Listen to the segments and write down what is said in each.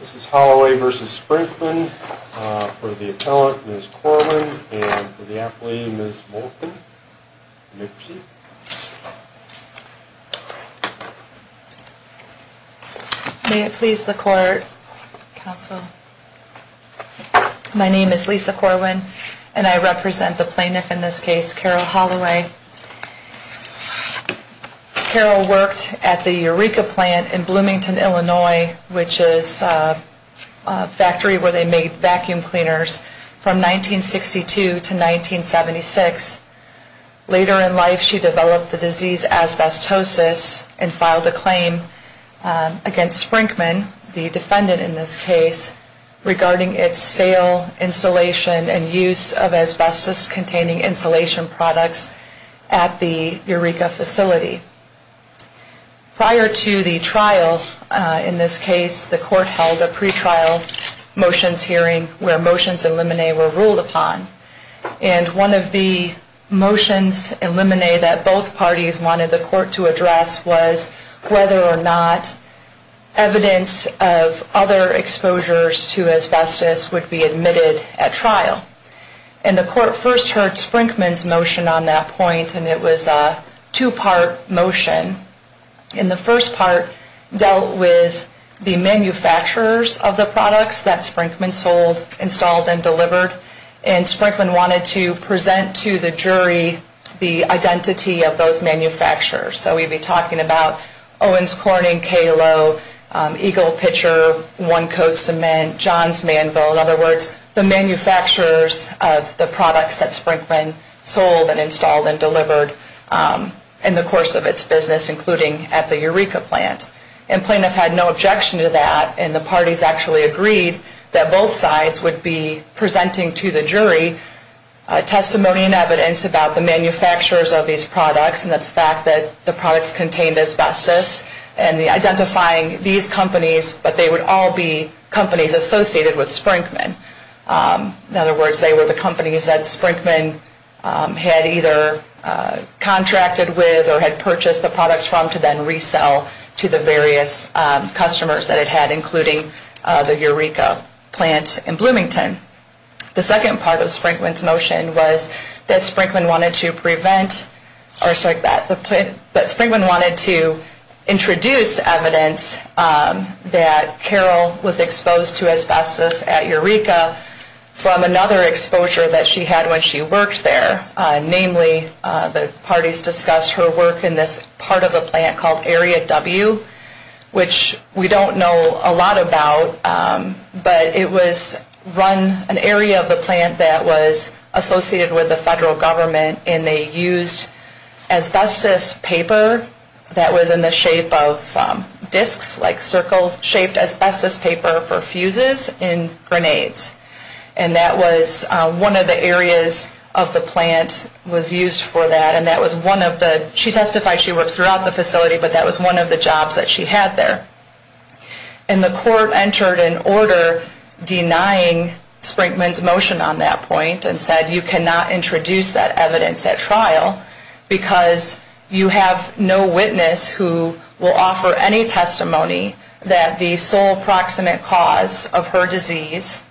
This is Holloway v. Sprinkman for the appellant, Ms. Corwin, and for the athlete, Ms. Moulton. May it please the court, counsel. My name is Lisa Corwin and I represent the plaintiff in this case, Carol Holloway. Carol worked at the Eureka plant in Bloomington, Illinois, which is a factory where they made vacuum cleaners from 1962 to 1976. Later in life, she developed the disease asbestosis and filed a claim against Sprinkman, the defendant in this case, regarding its sale, installation, and use of asbestos-containing insulation products at the Eureka facility. Prior to the trial in this case, the court held a pretrial motions hearing where motions and limine were ruled upon. And one of the motions and limine that both parties wanted the court to address was whether or not evidence of other exposure to asbestos would be admitted at trial. And the court first heard Sprinkman's motion on that point, and it was a two-part motion. And the first part dealt with the manufacturers of the products that Sprinkman sold, installed, and delivered. And Sprinkman wanted to present to the jury the identity of those manufacturers. So we'd be talking about Owens Corning, K. Lowe, Eagle Pitcher, One Coat Cement, Johns Manville. In other words, the manufacturers of the products that Sprinkman sold and installed and delivered in the course of its business, including at the Eureka plant. And plaintiffs had no objection to that, and the parties actually agreed that both sides would be presenting to the jury testimony about the manufacturers of these products and the fact that the products contained asbestos and the identifying these companies, but they would all be companies associated with Sprinkman. In other words, they were the companies that Sprinkman had either contracted with or had purchased the products from to then resell to the various customers that it had, including the Eureka plant in Bloomington. The second part of Sprinkman's motion was that Sprinkman wanted to prevent, or sorry, that Sprinkman wanted to introduce evidence that Carol was exposed to asbestos at Eureka from another exposure that she had when she worked there. Namely, the parties discussed her work in this part of the plant called Area W, which we don't know a lot about, but it was run, an area of the plant that was associated with the federal government, and they used asbestos paper that was in the shape of disks, like circle-shaped asbestos paper for fuses and grenades. And that was one of the areas of the plant was used for that, and that was one of the, she testified she worked throughout the facility, but that was one of the jobs that she had there. And the court entered an order denying Sprinkman's motion on that point and said, you cannot introduce that evidence at trial because you have no witness who will offer any testimony that the sole proximate cause of her disease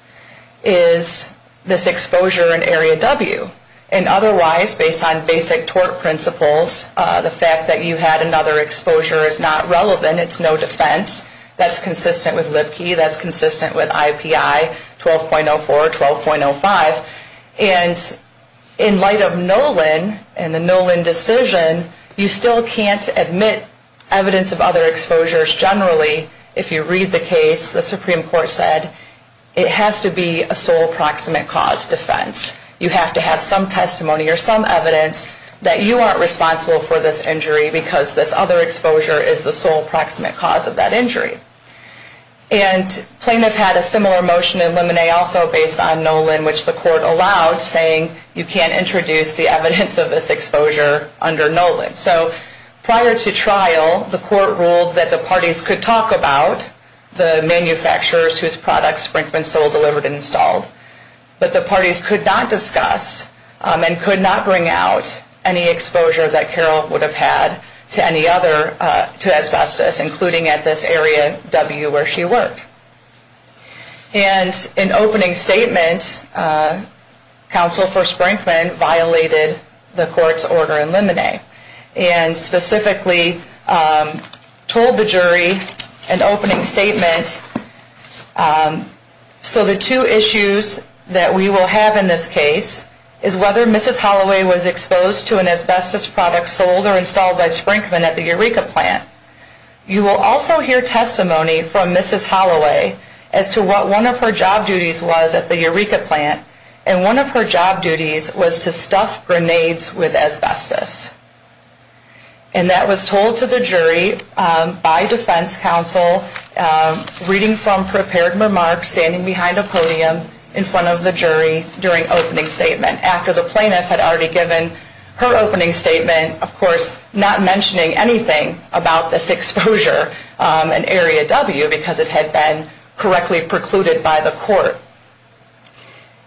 is this exposure in Area W. And otherwise, based on basic tort principles, the fact that you had another exposure is not relevant. It's no defense. That's consistent with LIPKE. That's consistent with IPI 12.04, 12.05. And in light of Nolan and the Nolan decision, you still can't admit evidence of other exposures. Generally, if you read the case, the Supreme Court said it has to be a sole proximate cause defense. You have to have some testimony or some evidence that you aren't responsible for this injury because this other exposure is the sole proximate cause of that injury. And plaintiff had a similar motion in Lemonnet also based on Nolan, which the court allowed, saying you can't introduce the evidence of this exposure under Nolan. So prior to trial, the court ruled that the parties could talk about the manufacturers whose products Sprinkman sold, delivered, and installed, but the parties could not discuss and could not bring out any exposure that Carol would have had to any other, to asbestos, including at this Area W where she worked. And in opening statements, counsel for Sprinkman violated the court's order in Lemonnet and specifically told the jury in opening statements, so the two issues that we will have in this case is whether Mrs. Holloway was exposed to an asbestos product sold or installed by Sprinkman at the Eureka plant. You will also hear testimony from Mrs. Holloway as to what one of her job duties was at the Eureka plant, and one of her job duties was to stuff grenades with asbestos. And that was told to the jury by defense counsel, reading from prepared remarks, standing behind a podium in front of the jury during opening statement, after the plaintiff had already given her opening statement, of course, not mentioning anything about this exposure in Area W because it had been correctly precluded by the court.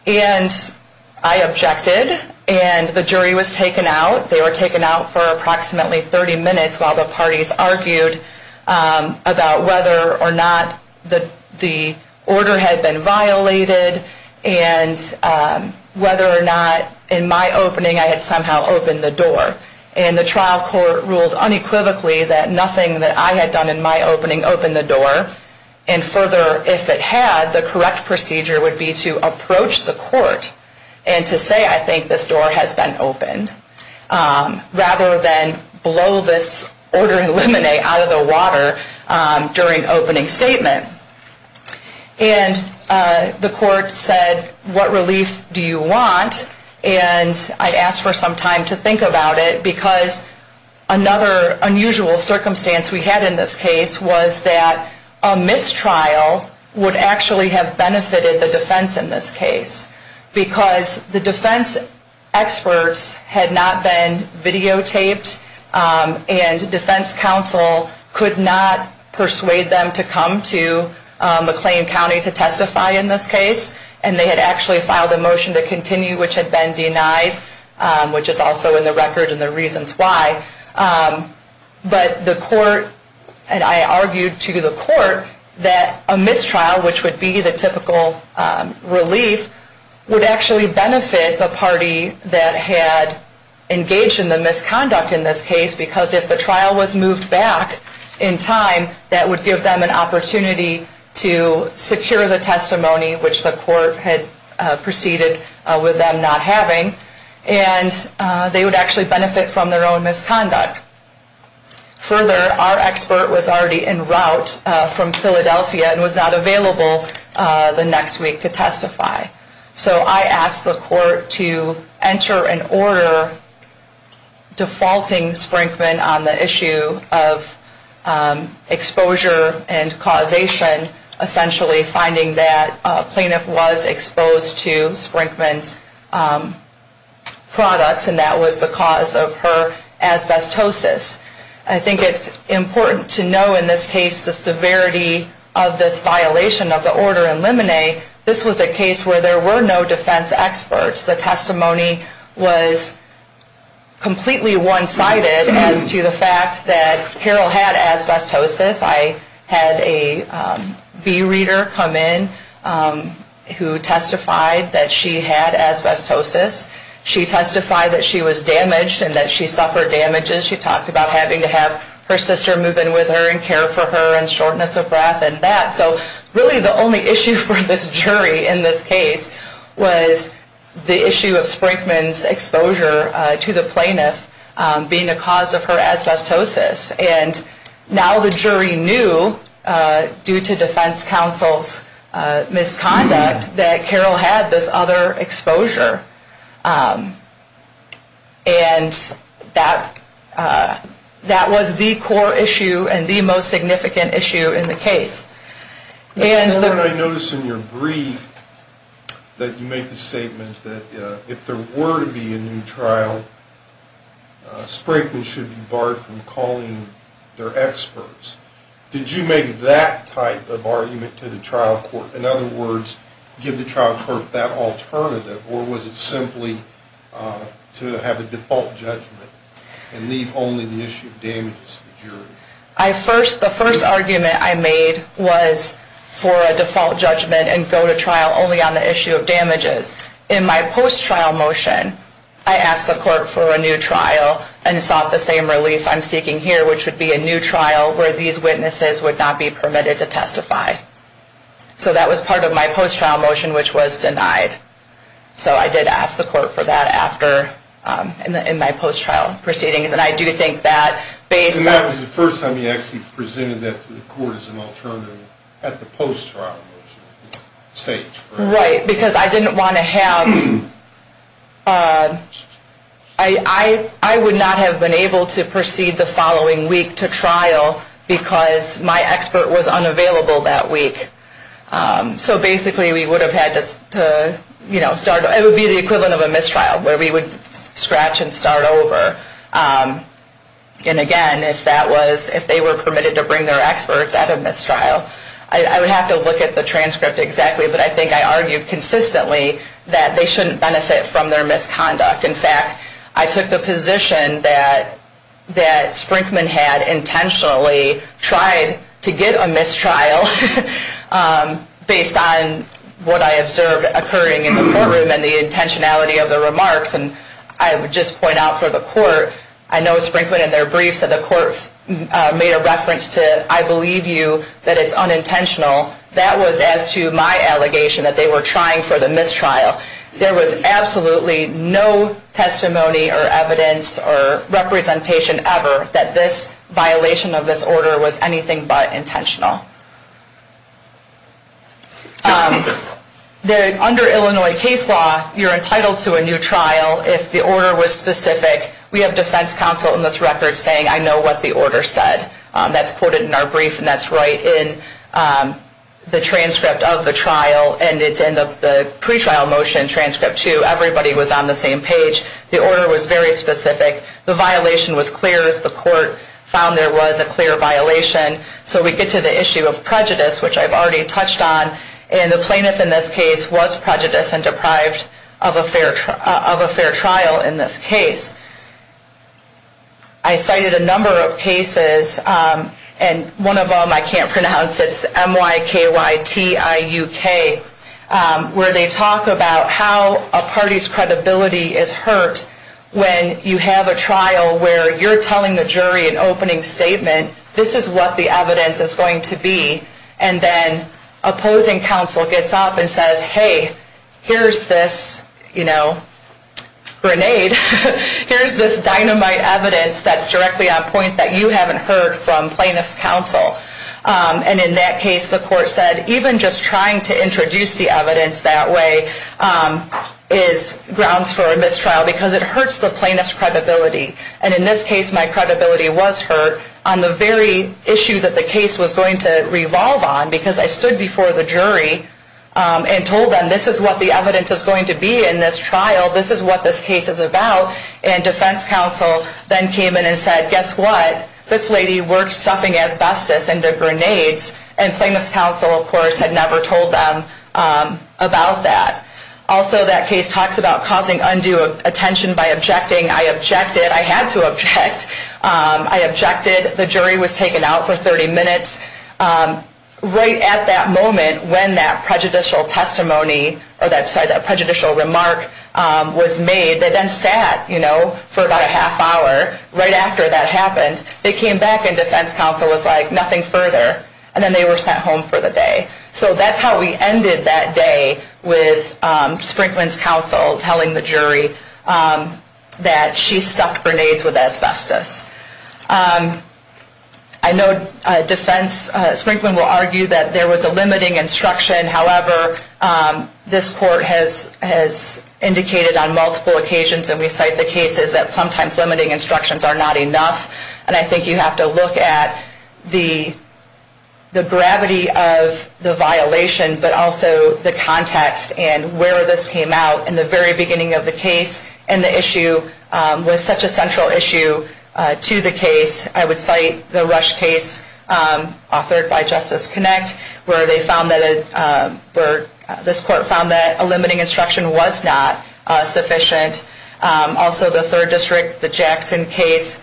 And I objected, and the jury was taken out. They were taken out for approximately 30 minutes while the parties argued about whether or not the order had been violated and whether or not in my opening I had somehow opened the door. And the trial court ruled unequivocally that nothing that I had done in my opening opened the door, and further, if it had, the correct procedure would be to approach the court and to say, I think this door has been opened, rather than blow this order of lemonade out of the water during opening statement. And the court said, what relief do you want? And I asked for some time to think about it because another unusual circumstance we had in this case was that a mistrial would actually have benefited the defense in this case because the defense experts had not been videotaped and defense counsel could not persuade them to come to McLean County to testify in this case, and they had actually filed a motion to continue, which had been denied, which is also in the record and the reasons why. But the court, and I argued to the court, that a mistrial, which would be the typical relief, would actually benefit the party that had engaged in the misconduct in this case because if the trial was moved back in time, that would give them an opportunity to secure the testimony, which the court had proceeded with them not having, and they would actually benefit from their own misconduct. Further, our expert was already en route from Philadelphia and was not available the next week to testify. So I asked the court to enter an order defaulting Sprinkman on the issue of exposure and causation, essentially finding that a plaintiff was exposed to Sprinkman's products and that was the cause of her asbestosis. I think it's important to know in this case the severity of this violation of the order in Lemonet. This was a case where there were no defense experts. The testimony was completely one-sided as to the fact that Carol had asbestosis. I had a bee reader come in who testified that she had asbestosis. She testified that she was damaged and that she suffered damages. She talked about having to have her sister move in with her and care for her and shortness of breath and that. So really the only issue for this jury in this case was the issue of Sprinkman's exposure to the plaintiff being a cause of her asbestosis. And now the jury knew due to defense counsel's misconduct that Carol had this other exposure. And that was the core issue and the most significant issue in the case. I noticed in your brief that you make the statement that if there were to be a new trial, Sprinkman should be barred from calling their experts. Did you make that type of argument to the trial court? In other words, give the trial court that alternative or was it simply to have a default judgment and leave only the issue of damages to the jury? The first argument I made was for a default judgment and go to trial only on the issue of damages. In my post-trial motion, I asked the court for a new trial and sought the same relief I'm seeking here, which would be a new trial where these witnesses would not be permitted to testify. So that was part of my post-trial motion, which was denied. So I did ask the court for that after in my post-trial proceedings. And that was the first time you actually presented that to the court as an alternative at the post-trial stage? Right, because I would not have been able to proceed the following week to trial because my expert was unavailable that week. So basically, it would be the equivalent of a mistrial where we would scratch and start over. And again, if they were permitted to bring their experts at a mistrial, I would have to look at the transcript exactly. But I think I argued consistently that they shouldn't benefit from their misconduct. In fact, I took the position that Sprinkman had intentionally tried to get a mistrial based on what I observed occurring in the courtroom and the intentionality of the remarks. And I would just point out for the court, I know Sprinkman in their brief said the court made a reference to, I believe you, that it's unintentional. That was as to my allegation that they were trying for the mistrial. There was absolutely no testimony or evidence or representation ever that this violation of this order was anything but intentional. Under Illinois case law, you're entitled to a new trial if the order was specific. We have defense counsel in this record saying, I know what the order said. That's quoted in our brief, and that's right in the transcript of the trial. And it's in the pretrial motion transcript, too. Everybody was on the same page. The order was very specific. The violation was clear. The court found there was a clear violation. So we get to the issue of prejudice, which I've already touched on. And the plaintiff in this case was prejudiced and deprived of a fair trial in this case. I cited a number of cases, and one of them I can't pronounce. It's M-Y-K-Y-T-I-U-K, where they talk about how a party's credibility is hurt when you have a trial where you're telling the jury an opening statement, this is what the evidence is going to be. And then opposing counsel gets up and says, hey, here's this, you know, grenade, here's this dynamite evidence that's directly on point that you haven't heard from plaintiff's counsel. And in that case, the court said, even just trying to introduce the evidence that way is grounds for a mistrial because it hurts the plaintiff's credibility. And in this case, my credibility was hurt on the very issue that the case was going to revolve on because I stood before the jury and told them, this is what the evidence is going to be in this trial. This is what this case is about. And defense counsel then came in and said, guess what? This lady works stuffing asbestos into grenades. And plaintiff's counsel, of course, had never told them about that. Also, that case talks about causing undue attention by objecting. I objected. I had to object. I objected. The jury was taken out for 30 minutes. Right at that moment when that prejudicial testimony or that prejudicial remark was made, they then sat, you know, for about a half hour. Right after that happened, they came back and defense counsel was like, nothing further. And then they were sent home for the day. So that's how we ended that day with Sprinkman's counsel telling the jury that she stuffed grenades with asbestos. I know defense Sprinkman will argue that there was a limiting instruction. However, this court has indicated on multiple occasions, and we cite the cases, that sometimes limiting instructions are not enough. And I think you have to look at the gravity of the violation, but also the context and where this came out in the very beginning of the case. And the issue was such a central issue to the case. I would cite the Rush case authored by Justice Connect, where this court found that a limiting instruction was not sufficient. Also the third district, the Jackson case,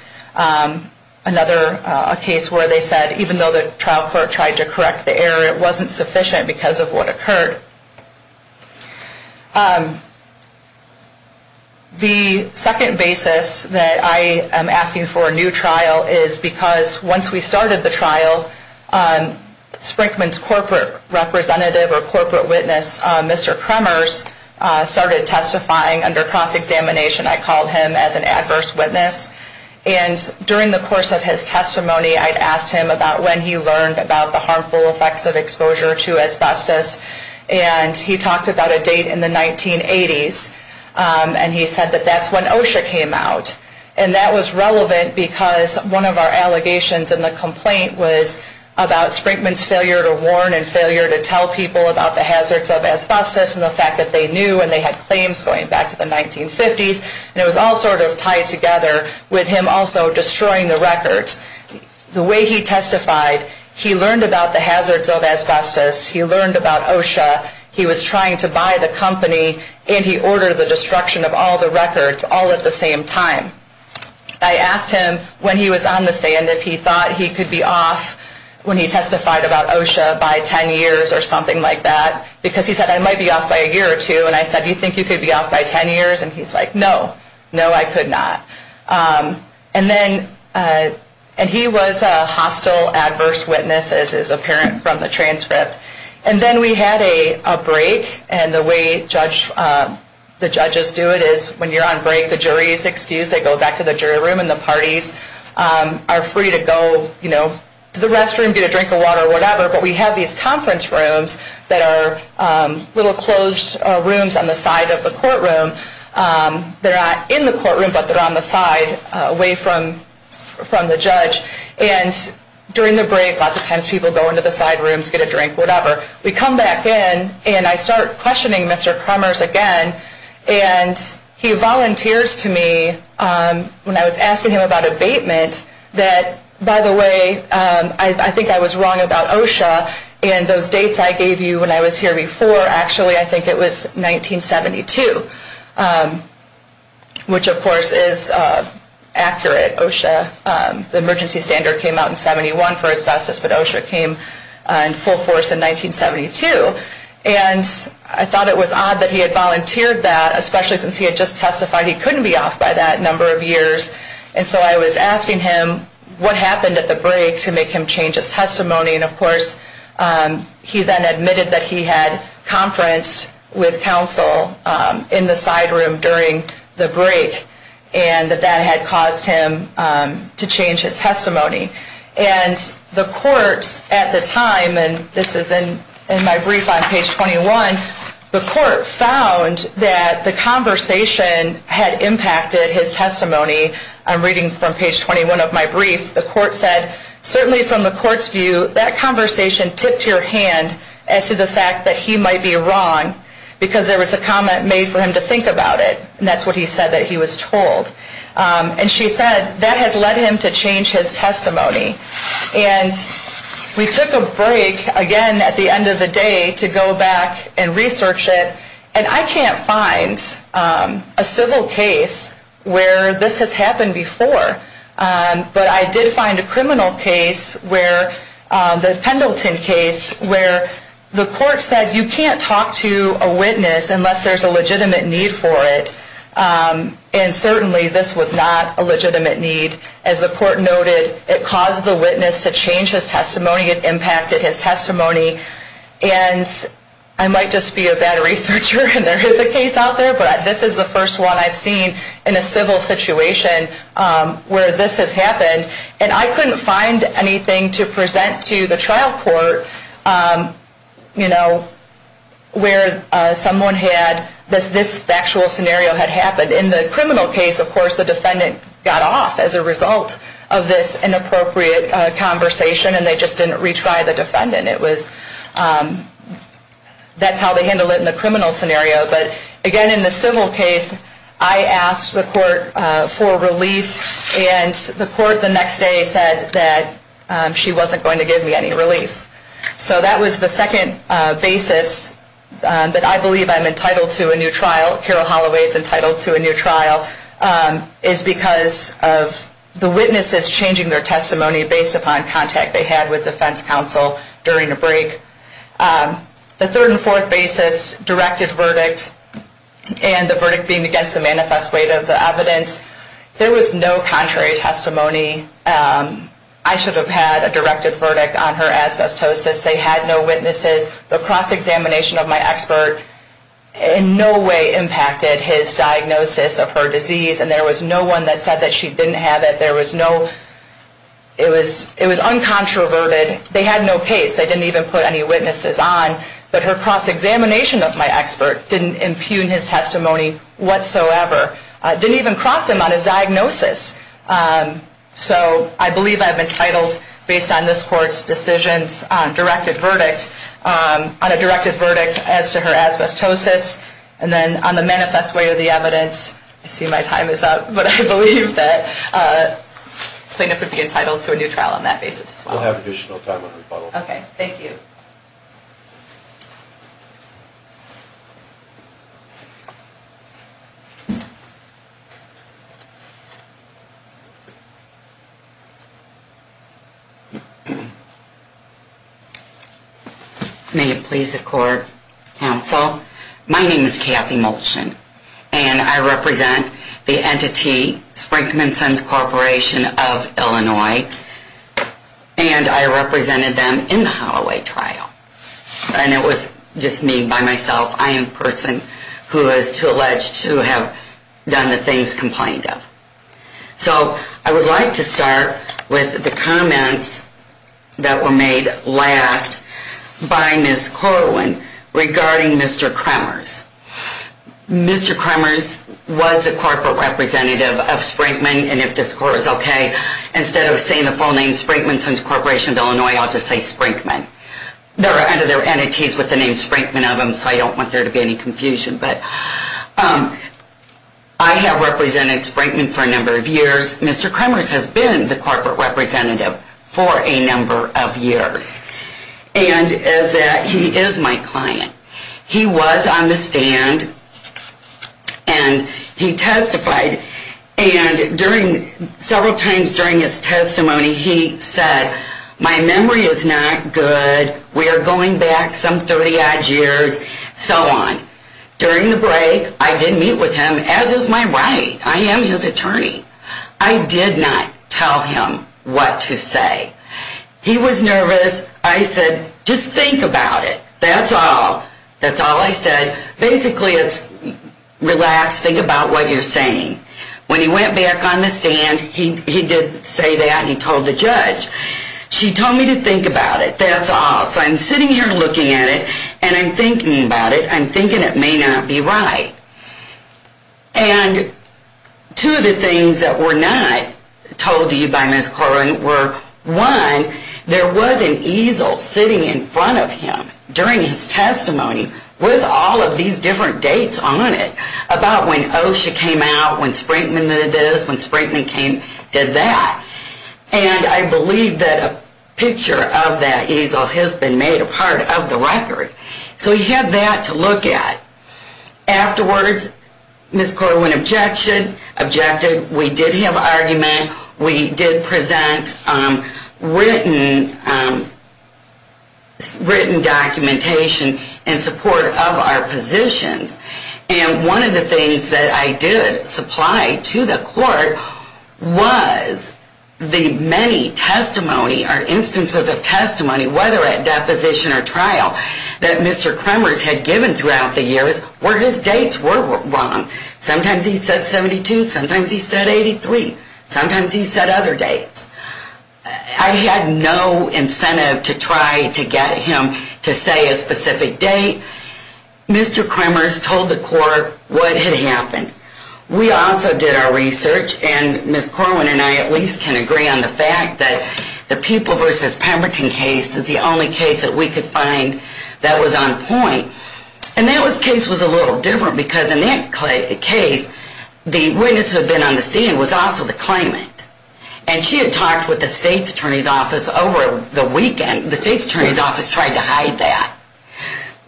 another case where they said even though the trial court tried to correct the error, it wasn't sufficient because of what occurred. The second basis that I am asking for a new trial is because once we started the trial, Sprinkman's corporate representative or corporate witness, Mr. Kremers, started testifying under cross-examination. I called him as an adverse witness. And during the course of his testimony, I had asked him about when he learned about the harmful effects of exposure to asbestos. And he talked about a date in the 1980s. And he said that that's when OSHA came out. And that was relevant because one of our allegations in the complaint was about Sprinkman's failure to warn and failure to tell people about the hazards of asbestos and the fact that they knew and they had claims going back to the 1950s. And it was all sort of tied together with him also destroying the records. The way he testified, he learned about the hazards of asbestos. He learned about OSHA. He was trying to buy the company, and he ordered the destruction of all the records all at the same time. I asked him when he was on the stand if he thought he could be off when he testified about OSHA by 10 years or something like that because he said, I might be off by a year or two. And I said, do you think you could be off by 10 years? And he's like, no. No, I could not. And then he was a hostile adverse witness, as is apparent from the transcript. And then we had a break. And the way the judges do it is when you're on break, the jury is excused. They go back to the jury room, and the parties are free to go to the restroom, get a drink of water, whatever. But we have these conference rooms that are little closed rooms on the side of the courtroom. They're not in the courtroom, but they're on the side away from the judge. And during the break, lots of times people go into the side rooms, get a drink, whatever. We come back in, and I start questioning Mr. Crummers again. And he volunteers to me when I was asking him about abatement that, by the way, I think I was wrong about OSHA. And those dates I gave you when I was here before, actually, I think it was 1972, which, of course, is accurate. OSHA, the emergency standard came out in 71 for asbestos, but OSHA came in full force in 1972. And I thought it was odd that he had volunteered that, especially since he had just testified he couldn't be off by that number of years. And so I was asking him what happened at the break to make him change his testimony. And, of course, he then admitted that he had conferenced with counsel in the side room during the break, and that that had caused him to change his testimony. And the court at the time, and this is in my brief on page 21, the court found that the conversation had impacted his testimony. I'm reading from page 21 of my brief. The court said, certainly from the court's view, that conversation tipped your hand as to the fact that he might be wrong, because there was a comment made for him to think about it. And that's what he said that he was told. And she said that has led him to change his testimony. And we took a break again at the end of the day to go back and research it. And I can't find a civil case where this has happened before. But I did find a criminal case, the Pendleton case, where the court said you can't talk to a witness unless there's a legitimate need for it. And certainly this was not a legitimate need. As the court noted, it caused the witness to change his testimony. It impacted his testimony. And I might just be a bad researcher, and there is a case out there, but this is the first one I've seen in a civil situation where this has happened. And I couldn't find anything to present to the trial court, you know, where someone had this factual scenario had happened. In the criminal case, of course, the defendant got off as a result of this inappropriate conversation, and they just didn't retry the defendant. That's how they handle it in the criminal scenario. But again, in the civil case, I asked the court for relief, and the court the next day said that she wasn't going to give me any relief. So that was the second basis that I believe I'm entitled to a new trial, Carol Holloway is entitled to a new trial, is because of the witnesses changing their testimony based upon contact they had with defense counsel during a break. The third and fourth basis, directed verdict, and the verdict being against the manifest weight of the evidence, there was no contrary testimony. I should have had a directed verdict on her asbestosis. They had no witnesses. The cross-examination of my expert in no way impacted his diagnosis of her disease, and there was no one that said that she didn't have it. It was uncontroverted. They had no case. They didn't even put any witnesses on. But her cross-examination of my expert didn't impugn his testimony whatsoever. It didn't even cross him on his diagnosis. So I believe I'm entitled, based on this court's decisions, on a directed verdict as to her asbestosis. And then on the manifest weight of the evidence, I see my time is up, but I believe that plaintiff would be entitled to a new trial on that basis as well. We'll have additional time on rebuttal. Okay. Thank you. May it please the court, counsel. My name is Kathy Molchan, and I represent the entity Sprinkman Sons Corporation of Illinois, and I represented them in the Holloway trial. And it was just me by myself. I am the person who is to allege to have done the things complained of. So I would like to start with the comments that were made last by Ms. Corwin regarding Mr. Kremers. Mr. Kremers was a corporate representative of Sprinkman, and if this court is okay, instead of saying the full name Sprinkman Sons Corporation of Illinois, I'll just say Sprinkman. There are other entities with the name Sprinkman of them, so I don't want there to be any confusion. But I have represented Sprinkman for a number of years. Mr. Kremers has been the corporate representative for a number of years, and he is my client. He was on the stand, and he testified. And several times during his testimony, he said, my memory is not good, we are going back some 30-odd years, so on. During the break, I did meet with him, as is my right. I am his attorney. I did not tell him what to say. He was nervous. I said, just think about it. That's all. That's all I said. Basically, it's, relax, think about what you're saying. When he went back on the stand, he did say that, and he told the judge. She told me to think about it. That's all. So I'm sitting here looking at it, and I'm thinking about it. I'm thinking it may not be right. And two of the things that were not told to you by Ms. Corwin were, one, there was an easel sitting in front of him during his testimony, with all of these different dates on it, about when OSHA came out, when Sprinkman did this, when Sprinkman did that. And I believe that a picture of that easel has been made a part of the record. So you have that to look at. Afterwards, Ms. Corwin objected. We did have an argument. We did present written documentation in support of our positions. And one of the things that I did supply to the court was the many testimony or instances of testimony, whether at deposition or trial, that Mr. Kremers had given throughout the years where his dates were wrong. Sometimes he said 72, sometimes he said 83, sometimes he said other dates. I had no incentive to try to get him to say a specific date. Mr. Kremers told the court what had happened. We also did our research, and Ms. Corwin and I at least can agree on the fact that the People v. Pemberton case is the only case that we could find that was on point. And that case was a little different because in that case, the witness who had been on the stand was also the claimant. And she had talked with the state's attorney's office over the weekend. The state's attorney's office tried to hide that.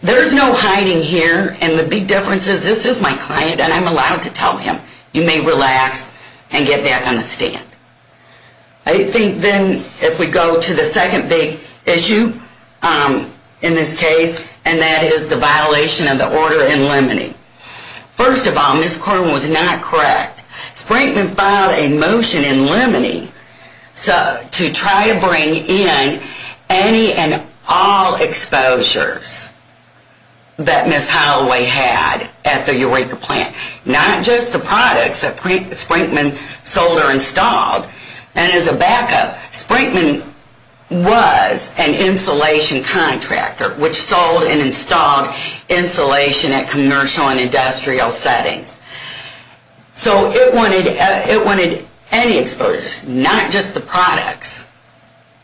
There's no hiding here, and the big difference is this is my client, and I'm allowed to tell him, you may relax and get back on the stand. I think then if we go to the second big issue in this case, and that is the violation of the order in Lemony. First of all, Ms. Corwin was not correct. Sprinkman filed a motion in Lemony to try to bring in any and all exposures that Ms. Holloway had at the Eureka plant, not just the products that Sprinkman sold or installed. And as a backup, Sprinkman was an insulation contractor which sold and installed insulation at commercial and industrial settings. So it wanted any exposures, not just the products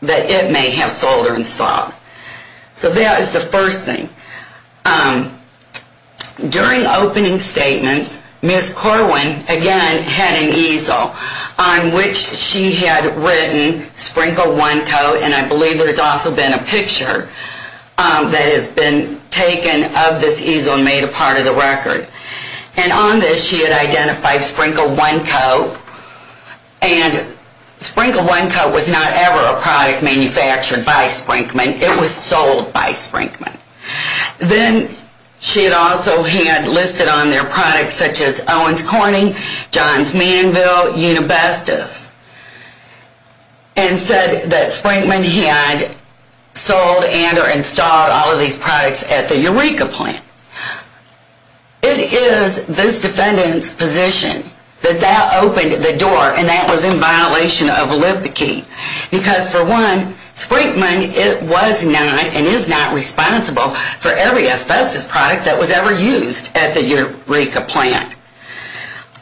that it may have sold or installed. So that is the first thing. During opening statements, Ms. Corwin, again, had an easel on which she had written, sprinkle one coat, and I believe there's also been a picture that has been taken of this easel and made a part of the record. And on this she had identified sprinkle one coat, and sprinkle one coat was not ever a product manufactured by Sprinkman. It was sold by Sprinkman. Then she also had listed on their products such as Owens Corning, Johns Manville, Unibestus, and said that Sprinkman had sold and or installed all of these products at the Eureka plant. It is this defendant's position that that opened the door, and that was in violation of Lipke. Because for one, Sprinkman was not and is not responsible for every asbestos product that was ever used at the Eureka plant.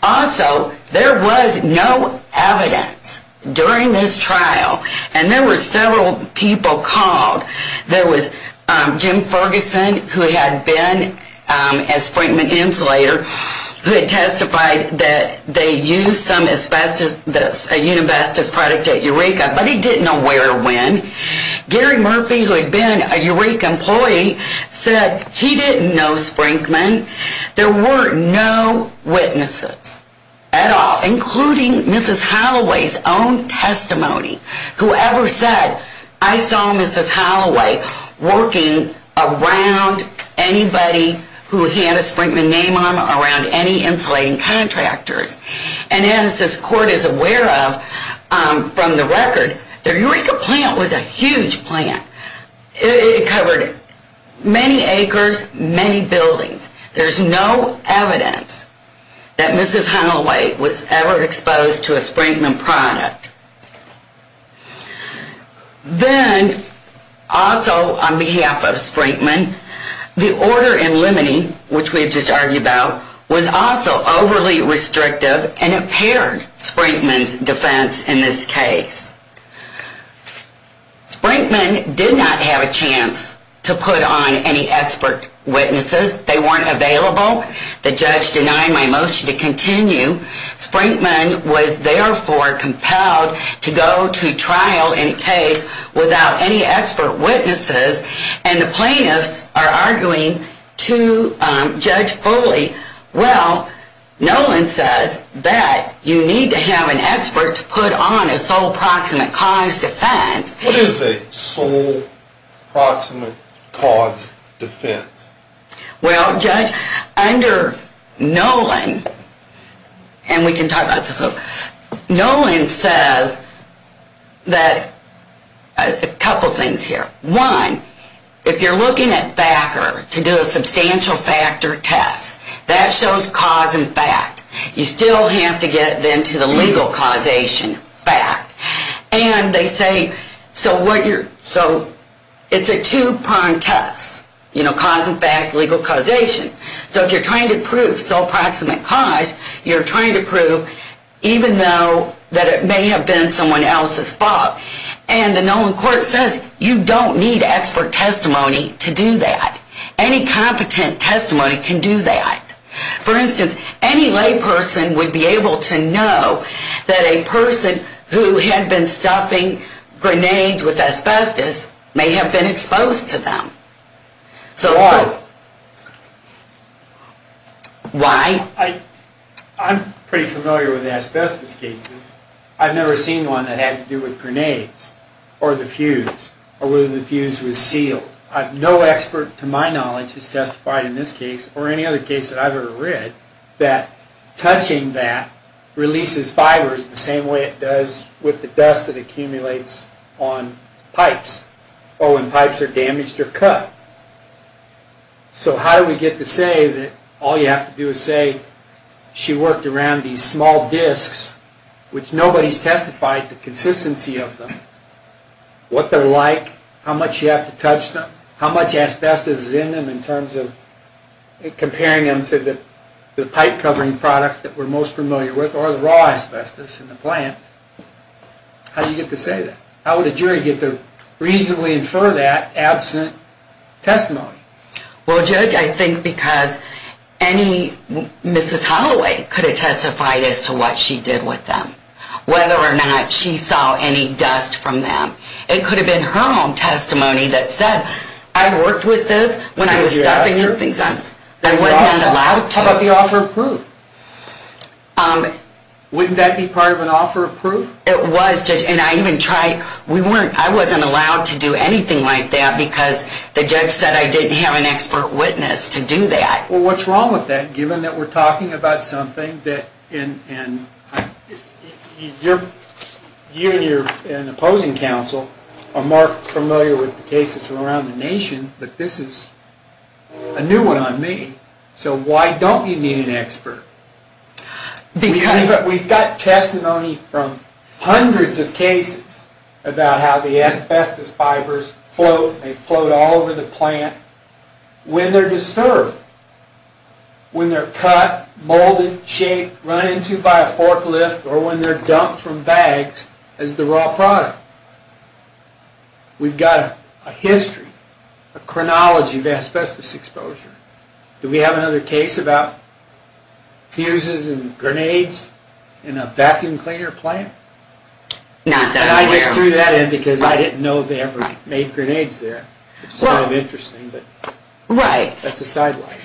Also, there was no evidence during this trial, and there were several people called. There was Jim Ferguson, who had been a Sprinkman insulator, who had testified that they used some asbestos, a Unibestus product at Eureka, but he didn't know where or when. Gary Murphy, who had been a Eureka employee, said he didn't know Sprinkman. There were no witnesses at all, including Mrs. Holloway's own testimony. Whoever said, I saw Mrs. Holloway working around anybody who had a Sprinkman name on them, around any insulating contractors. And as this court is aware of from the record, the Eureka plant was a huge plant. It covered many acres, many buildings. There's no evidence that Mrs. Holloway was ever exposed to a Sprinkman product. Then, also on behalf of Sprinkman, the order in limine, which we have just argued about, was also overly restrictive and impaired Sprinkman's defense in this case. Sprinkman did not have a chance to put on any expert witnesses. They weren't available. The judge denied my motion to continue. Sprinkman was, therefore, compelled to go to trial in a case without any expert witnesses, and the plaintiffs are arguing to Judge Foley, well, Nolan says that you need to have an expert to put on a sole proximate cause defense. What is a sole proximate cause defense? Well, Judge, under Nolan, and we can talk about this later, Nolan says a couple things here. One, if you're looking at FACR to do a substantial factor test, that shows cause and fact. You still have to get, then, to the legal causation fact. And they say, so it's a two-pronged test, you know, cause and fact, legal causation. So if you're trying to prove sole proximate cause, you're trying to prove even though that it may have been someone else's fault. And the Nolan court says you don't need expert testimony to do that. Any competent testimony can do that. For instance, any layperson would be able to know that a person who had been stuffing grenades with asbestos may have been exposed to them. Why? Why? I'm pretty familiar with asbestos cases. I've never seen one that had to do with grenades or the fuse or whether the fuse was sealed. No expert to my knowledge has testified in this case or any other case that I've ever read that touching that releases fibers the same way it does with the dust that accumulates on pipes or when pipes are damaged or cut. So how do we get to say that all you have to do is say she worked around these small disks which nobody's testified the consistency of them, what they're like, how much you have to touch them, how much asbestos is in them in terms of comparing them to the pipe covering products that we're most familiar with or the raw asbestos in the plants. How do you get to say that? How would a jury get to reasonably infer that absent testimony? Well, Judge, I think because any Mrs. Holloway could have testified as to what she did with them, whether or not she saw any dust from them. It could have been her own testimony that said, I worked with this when I was stuffing things up. I wasn't allowed to. How about the offer of proof? Wouldn't that be part of an offer of proof? It was, Judge, and I even tried. I wasn't allowed to do anything like that because the judge said I didn't have an expert witness to do that. Well, what's wrong with that given that we're talking about something that you and your opposing counsel are more familiar with the cases from around the nation, but this is a new one on me. So why don't you need an expert? We've got testimony from hundreds of cases about how the asbestos fibers float. They float all over the plant when they're disturbed, when they're cut, molded, shaped, run into by a forklift, or when they're dumped from bags as the raw product. We've got a history, a chronology of asbestos exposure. Do we have another case about fuses and grenades in a vacuum cleaner plant? I just threw that in because I didn't know they ever made grenades there. It's kind of interesting, but that's a sidelight.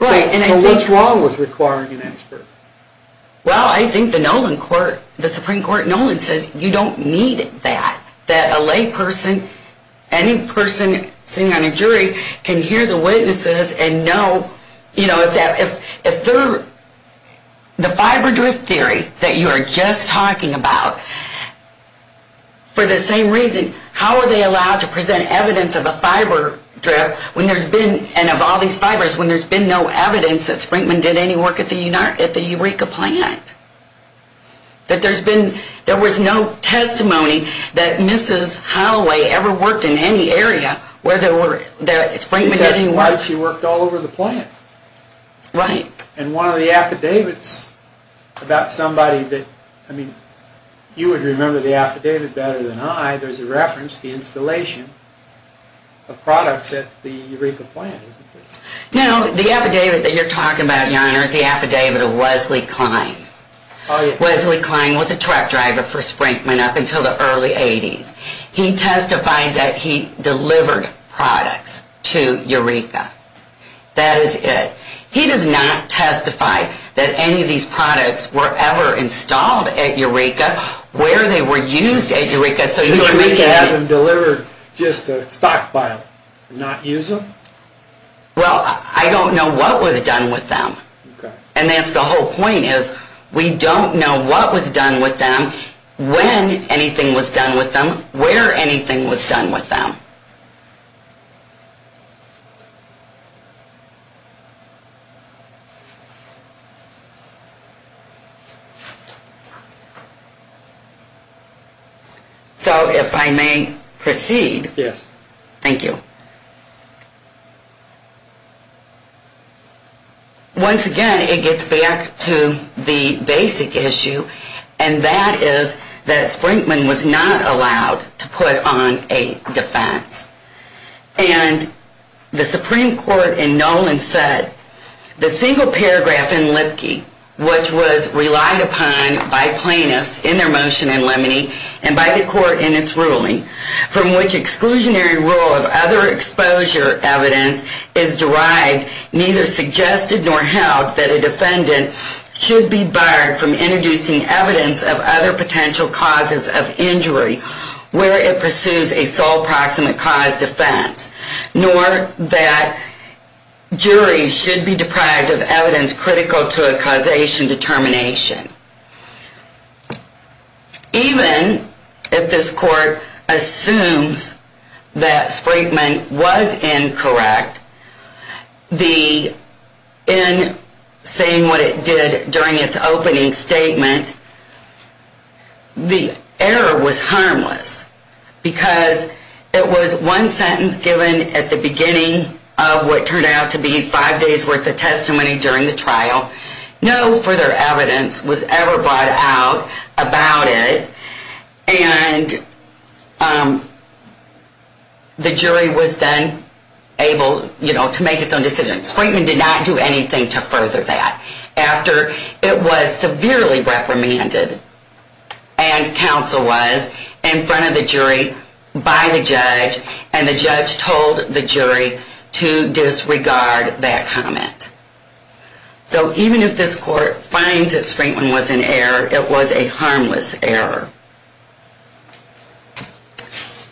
So what's wrong with requiring an expert? Well, I think the Nolan Court, the Supreme Court, Nolan says you don't need that, that a layperson, any person sitting on a jury can hear the witnesses and know if the fiber drift theory that you are just talking about, for the same reason, how are they allowed to present evidence of a fiber drift when there's been, and of all these fibers, when there's been no evidence that Sprinkman did any work at the Eureka plant? That there's been, there was no testimony that Mrs. Holloway ever worked in any area where Sprinkman did any work. She testified she worked all over the plant. Right. And one of the affidavits about somebody that, I mean, you would remember the affidavit better than I, there's a reference to the installation of products at the Eureka plant. No, the affidavit that you're talking about, Your Honor, is the affidavit of Wesley Klein. Wesley Klein was a truck driver for Sprinkman up until the early 80s. He testified that he delivered products to Eureka. That is it. He does not testify that any of these products were ever installed at Eureka, where they were used at Eureka. So Eureka hasn't delivered just to stockpile, not use them? Well, I don't know what was done with them. Okay. And that's the whole point is we don't know what was done with them, when anything was done with them, where anything was done with them. So if I may proceed. Yes. Thank you. Once again, it gets back to the basic issue, and that is that Sprinkman was not allowed to put on a defense. And the Supreme Court in Nolan said, the single paragraph in Lipke, which was relied upon by plaintiffs in their motion in Lemony and by the court in its ruling, from which exclusionary rule of other exposure evidence is derived, neither suggested nor held that a defendant should be barred from introducing evidence of other potential causes of injury where it pursues a sole proximate cause defense, nor that juries should be deprived of evidence critical to a causation determination. Even if this court assumes that Sprinkman was incorrect, in saying what it did during its opening statement, the error was harmless, because it was one sentence given at the beginning of what turned out to be five days' worth of testimony during the trial. No further evidence was ever brought out about it, and the jury was then able to make its own decision. Sprinkman did not do anything to further that after it was severely reprimanded, and counsel was in front of the jury by the judge, and the judge told the jury to disregard that comment. So even if this court finds that Sprinkman was in error, it was a harmless error.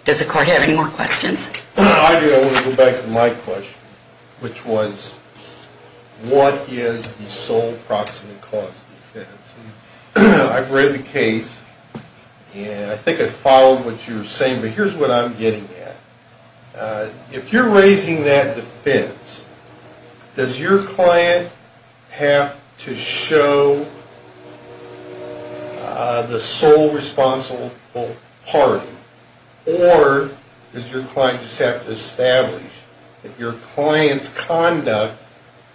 Does the court have any more questions? I do. I want to go back to my question, which was, what is the sole proximate cause defense? I've read the case, and I think I followed what you were saying, but here's what I'm getting at. If you're raising that defense, does your client have to show the sole responsible party, or does your client just have to establish that your client's conduct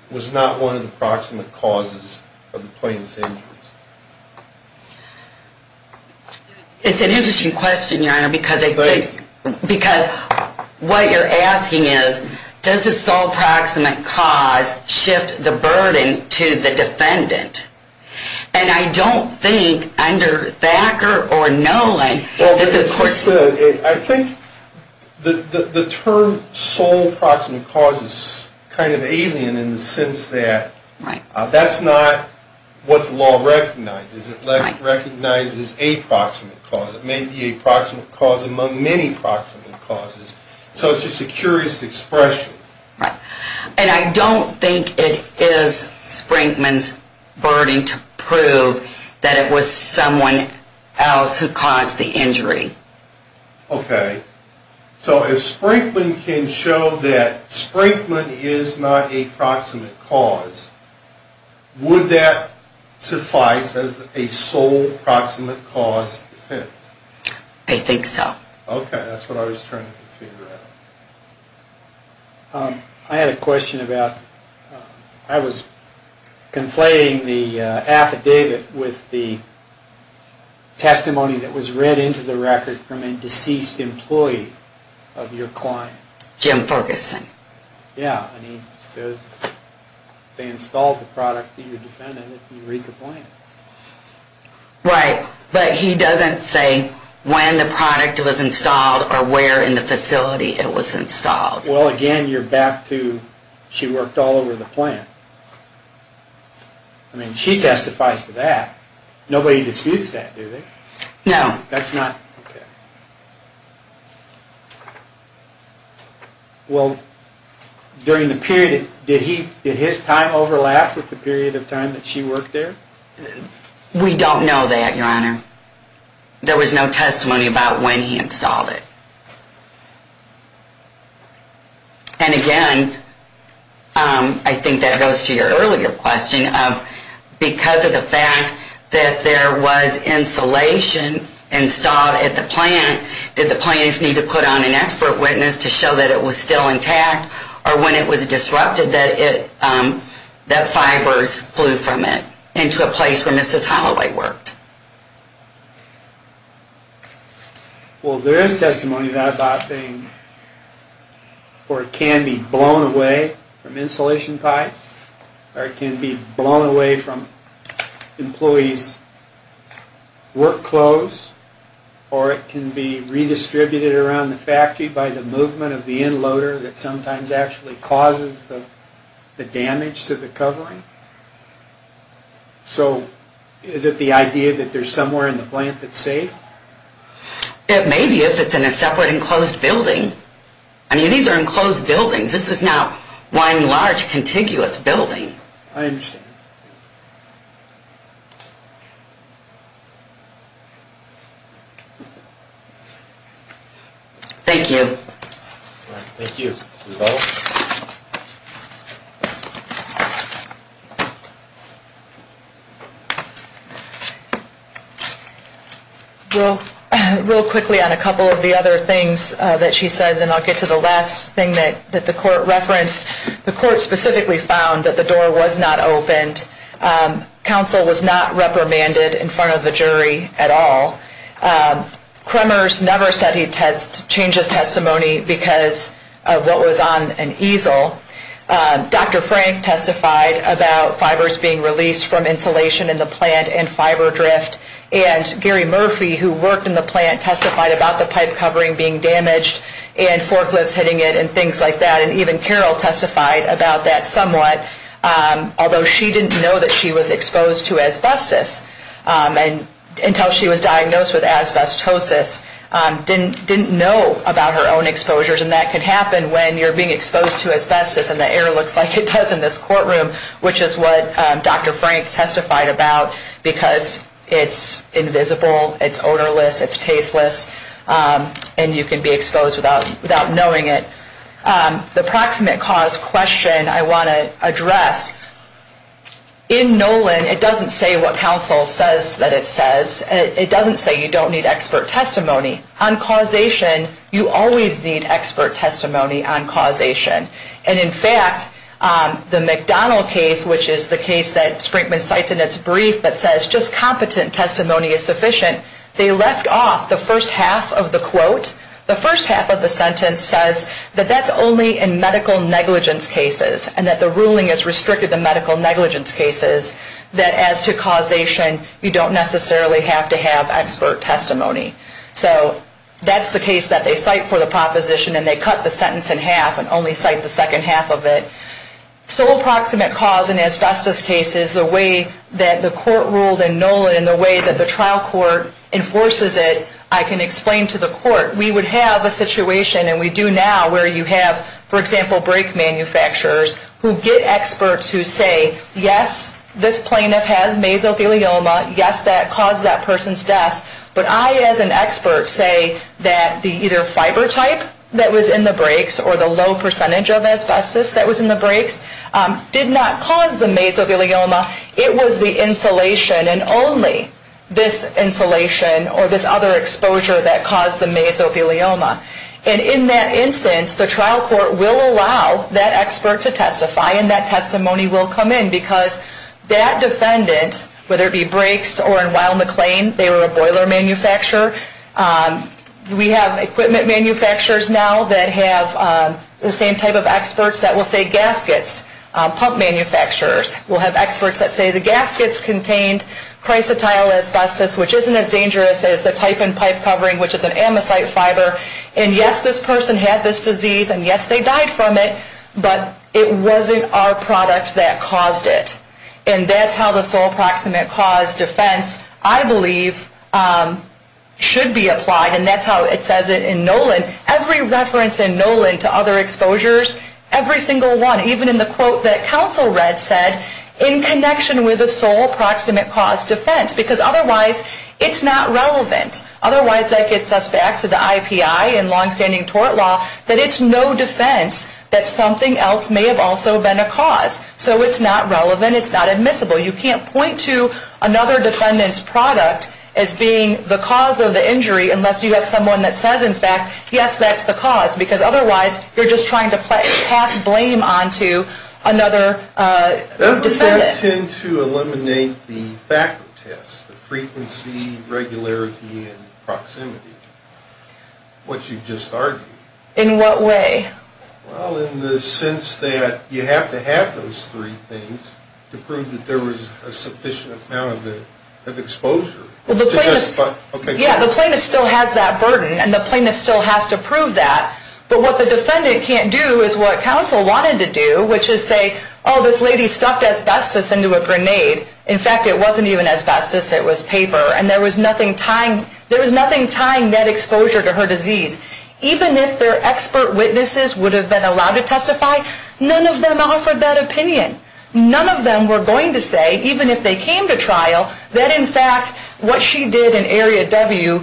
was not one of the proximate causes of the plaintiff's injuries? It's an interesting question, Your Honor, because what you're asking is, does the sole proximate cause shift the burden to the defendant? And I don't think under Thacker or Nolan that the court... I think the term sole proximate cause is kind of alien in the sense that that's not what the law recognizes. It recognizes a proximate cause. It may be a proximate cause among many proximate causes. So it's just a curious expression. And I don't think it is Sprinkman's burden to prove that it was someone else who caused the injury. Okay. So if Sprinkman can show that Sprinkman is not a proximate cause, would that suffice as a sole proximate cause defense? I think so. Okay. That's what I was trying to figure out. I had a question about... I was conflating the affidavit with the testimony that was read into the record from a deceased employee of your client. Jim Ferguson. Yeah. And he says they installed the product to your defendant at the Eureka plant. Right. But he doesn't say when the product was installed or where in the facility it was installed. Well, again, you're back to she worked all over the plant. I mean, she testifies to that. Nobody disputes that, do they? No. That's not... Okay. Well, during the period, did his time overlap with the period of time that she worked there? We don't know that, Your Honor. There was no testimony about when he installed it. And again, I think that goes to your earlier question of because of the fact that there was insulation installed at the plant, did the plaintiff need to put on an expert witness to show that it was still intact? Or when it was disrupted, that fibers flew from it into a place where Mrs. Holloway worked? Well, there is testimony about that thing, or it can be blown away from insulation pipes, or it can be blown away from employees' work clothes, or it can be redistributed around the factory by the movement of the inloader that sometimes actually causes the damage to the covering. So is it the idea that there's somewhere in the plant that's safe? It may be if it's in a separate enclosed building. I mean, these are enclosed buildings. This is not one large contiguous building. I understand. Thank you. Thank you. Real quickly on a couple of the other things that she said, then I'll get to the last thing that the court referenced. The court specifically found that the door was not opened. Counsel was not reprimanded in front of the jury at all. Kremers never said he'd change his testimony because of what was on an easel. Dr. Frank testified about fibers being released from insulation in the plant and fiber drift, and Gary Murphy, who worked in the plant, testified about the pipe covering being damaged and forklifts hitting it and things like that, and even Carol testified about that somewhat, although she didn't know that she was exposed to asbestos until she was diagnosed with asbestosis, didn't know about her own exposures, and that can happen when you're being exposed to asbestos and the air looks like it does in this courtroom, which is what Dr. Frank testified about because it's invisible, it's odorless, it's tasteless, and you can be exposed without knowing it. The proximate cause question I want to address, in Nolan, it doesn't say what counsel says that it says. It doesn't say you don't need expert testimony. On causation, you always need expert testimony on causation, and in fact, the McDonald case, which is the case that Sprinkman cites in its brief that says just competent testimony is sufficient, they left off the first half of the quote. The first half of the sentence says that that's only in medical negligence cases and that the ruling is restricted to medical negligence cases that as to causation, you don't necessarily have to have expert testimony. So that's the case that they cite for the proposition and they cut the sentence in half and only cite the second half of it. So approximate cause in asbestos cases, the way that the court ruled in Nolan and the way that the trial court enforces it, I can explain to the court. We would have a situation, and we do now, where you have, for example, brake manufacturers who get experts who say, yes, this plaintiff has mesothelioma, yes, that caused that person's death, but I as an expert say that the either fiber type that was in the brakes or the low percentage of asbestos that was in the brakes did not cause the mesothelioma, it was the insulation and only this insulation or this other exposure that caused the mesothelioma. And in that instance, the trial court will allow that expert to testify and that testimony will come in because that defendant, whether it be brakes or in Weill McLean, they were a boiler manufacturer. We have equipment manufacturers now that have the same type of experts that will say gaskets. Pump manufacturers will have experts that say the gaskets contained chrysotile asbestos, which isn't as dangerous as the type and pipe covering, which is an amosite fiber, and yes, this person had this disease and yes, they died from it, but it wasn't our product that caused it. And that's how the sole proximate cause defense, I believe, should be applied and that's how it says it in Nolan. Every reference in Nolan to other exposures, every single one, even in the quote that counsel read, said in connection with the sole proximate cause defense because otherwise it's not relevant. Otherwise that gets us back to the IPI and long-standing tort law that it's no defense that something else may have also been a cause. So it's not relevant. It's not admissible. You can't point to another defendant's product as being the cause of the injury unless you have someone that says, in fact, yes, that's the cause because otherwise you're just trying to pass blame onto another defendant. Does the court tend to eliminate the factor test, the frequency, regularity, and proximity, what you just argued? In what way? Well, in the sense that you have to have those three things to prove that there was a sufficient amount of exposure. Yeah, the plaintiff still has that burden and the plaintiff still has to prove that, but what the defendant can't do is what counsel wanted to do, which is say, oh, this lady stuffed asbestos into a grenade. In fact, it wasn't even asbestos. It was paper, and there was nothing tying that exposure to her disease. Even if their expert witnesses would have been allowed to testify, none of them offered that opinion. None of them were going to say, even if they came to trial, that in fact what she did in Area W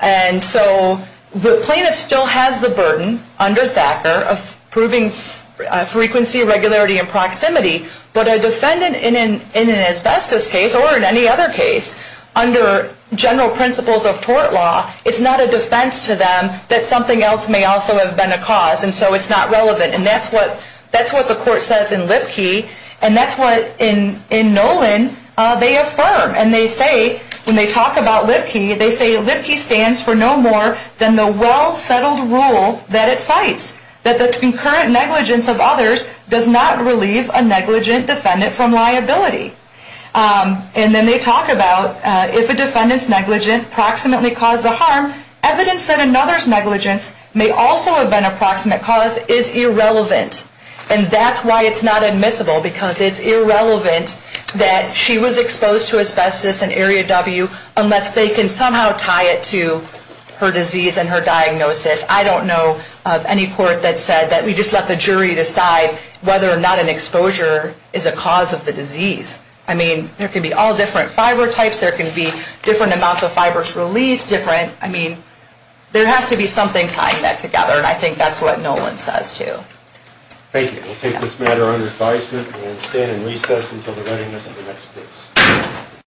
And so the plaintiff still has the burden under Thacker of proving frequency, regularity, and proximity, but a defendant in an asbestos case or in any other case, under general principles of tort law, it's not a defense to them that something else may also have been a cause, and so it's not relevant. And that's what the court says in Lipke, and that's what in Nolan they affirm. And they say, when they talk about Lipke, they say Lipke stands for no more than the well-settled rule that it cites, that the concurrent negligence of others does not relieve a negligent defendant from liability. And then they talk about, if a defendant's negligence approximately caused the harm, evidence that another's negligence may also have been an approximate cause is irrelevant. And that's why it's not admissible, because it's irrelevant that she was exposed to asbestos in Area W unless they can somehow tie it to her disease and her diagnosis. I don't know of any court that said that we just let the jury decide whether or not an exposure is a cause of the disease. I mean, there can be all different fiber types, there can be different amounts of fibers released, different, I mean, there has to be something tying that together, and I think that's what Nolan says, too. Thank you. We'll take this matter under advisement and stand in recess until the readiness of the next case.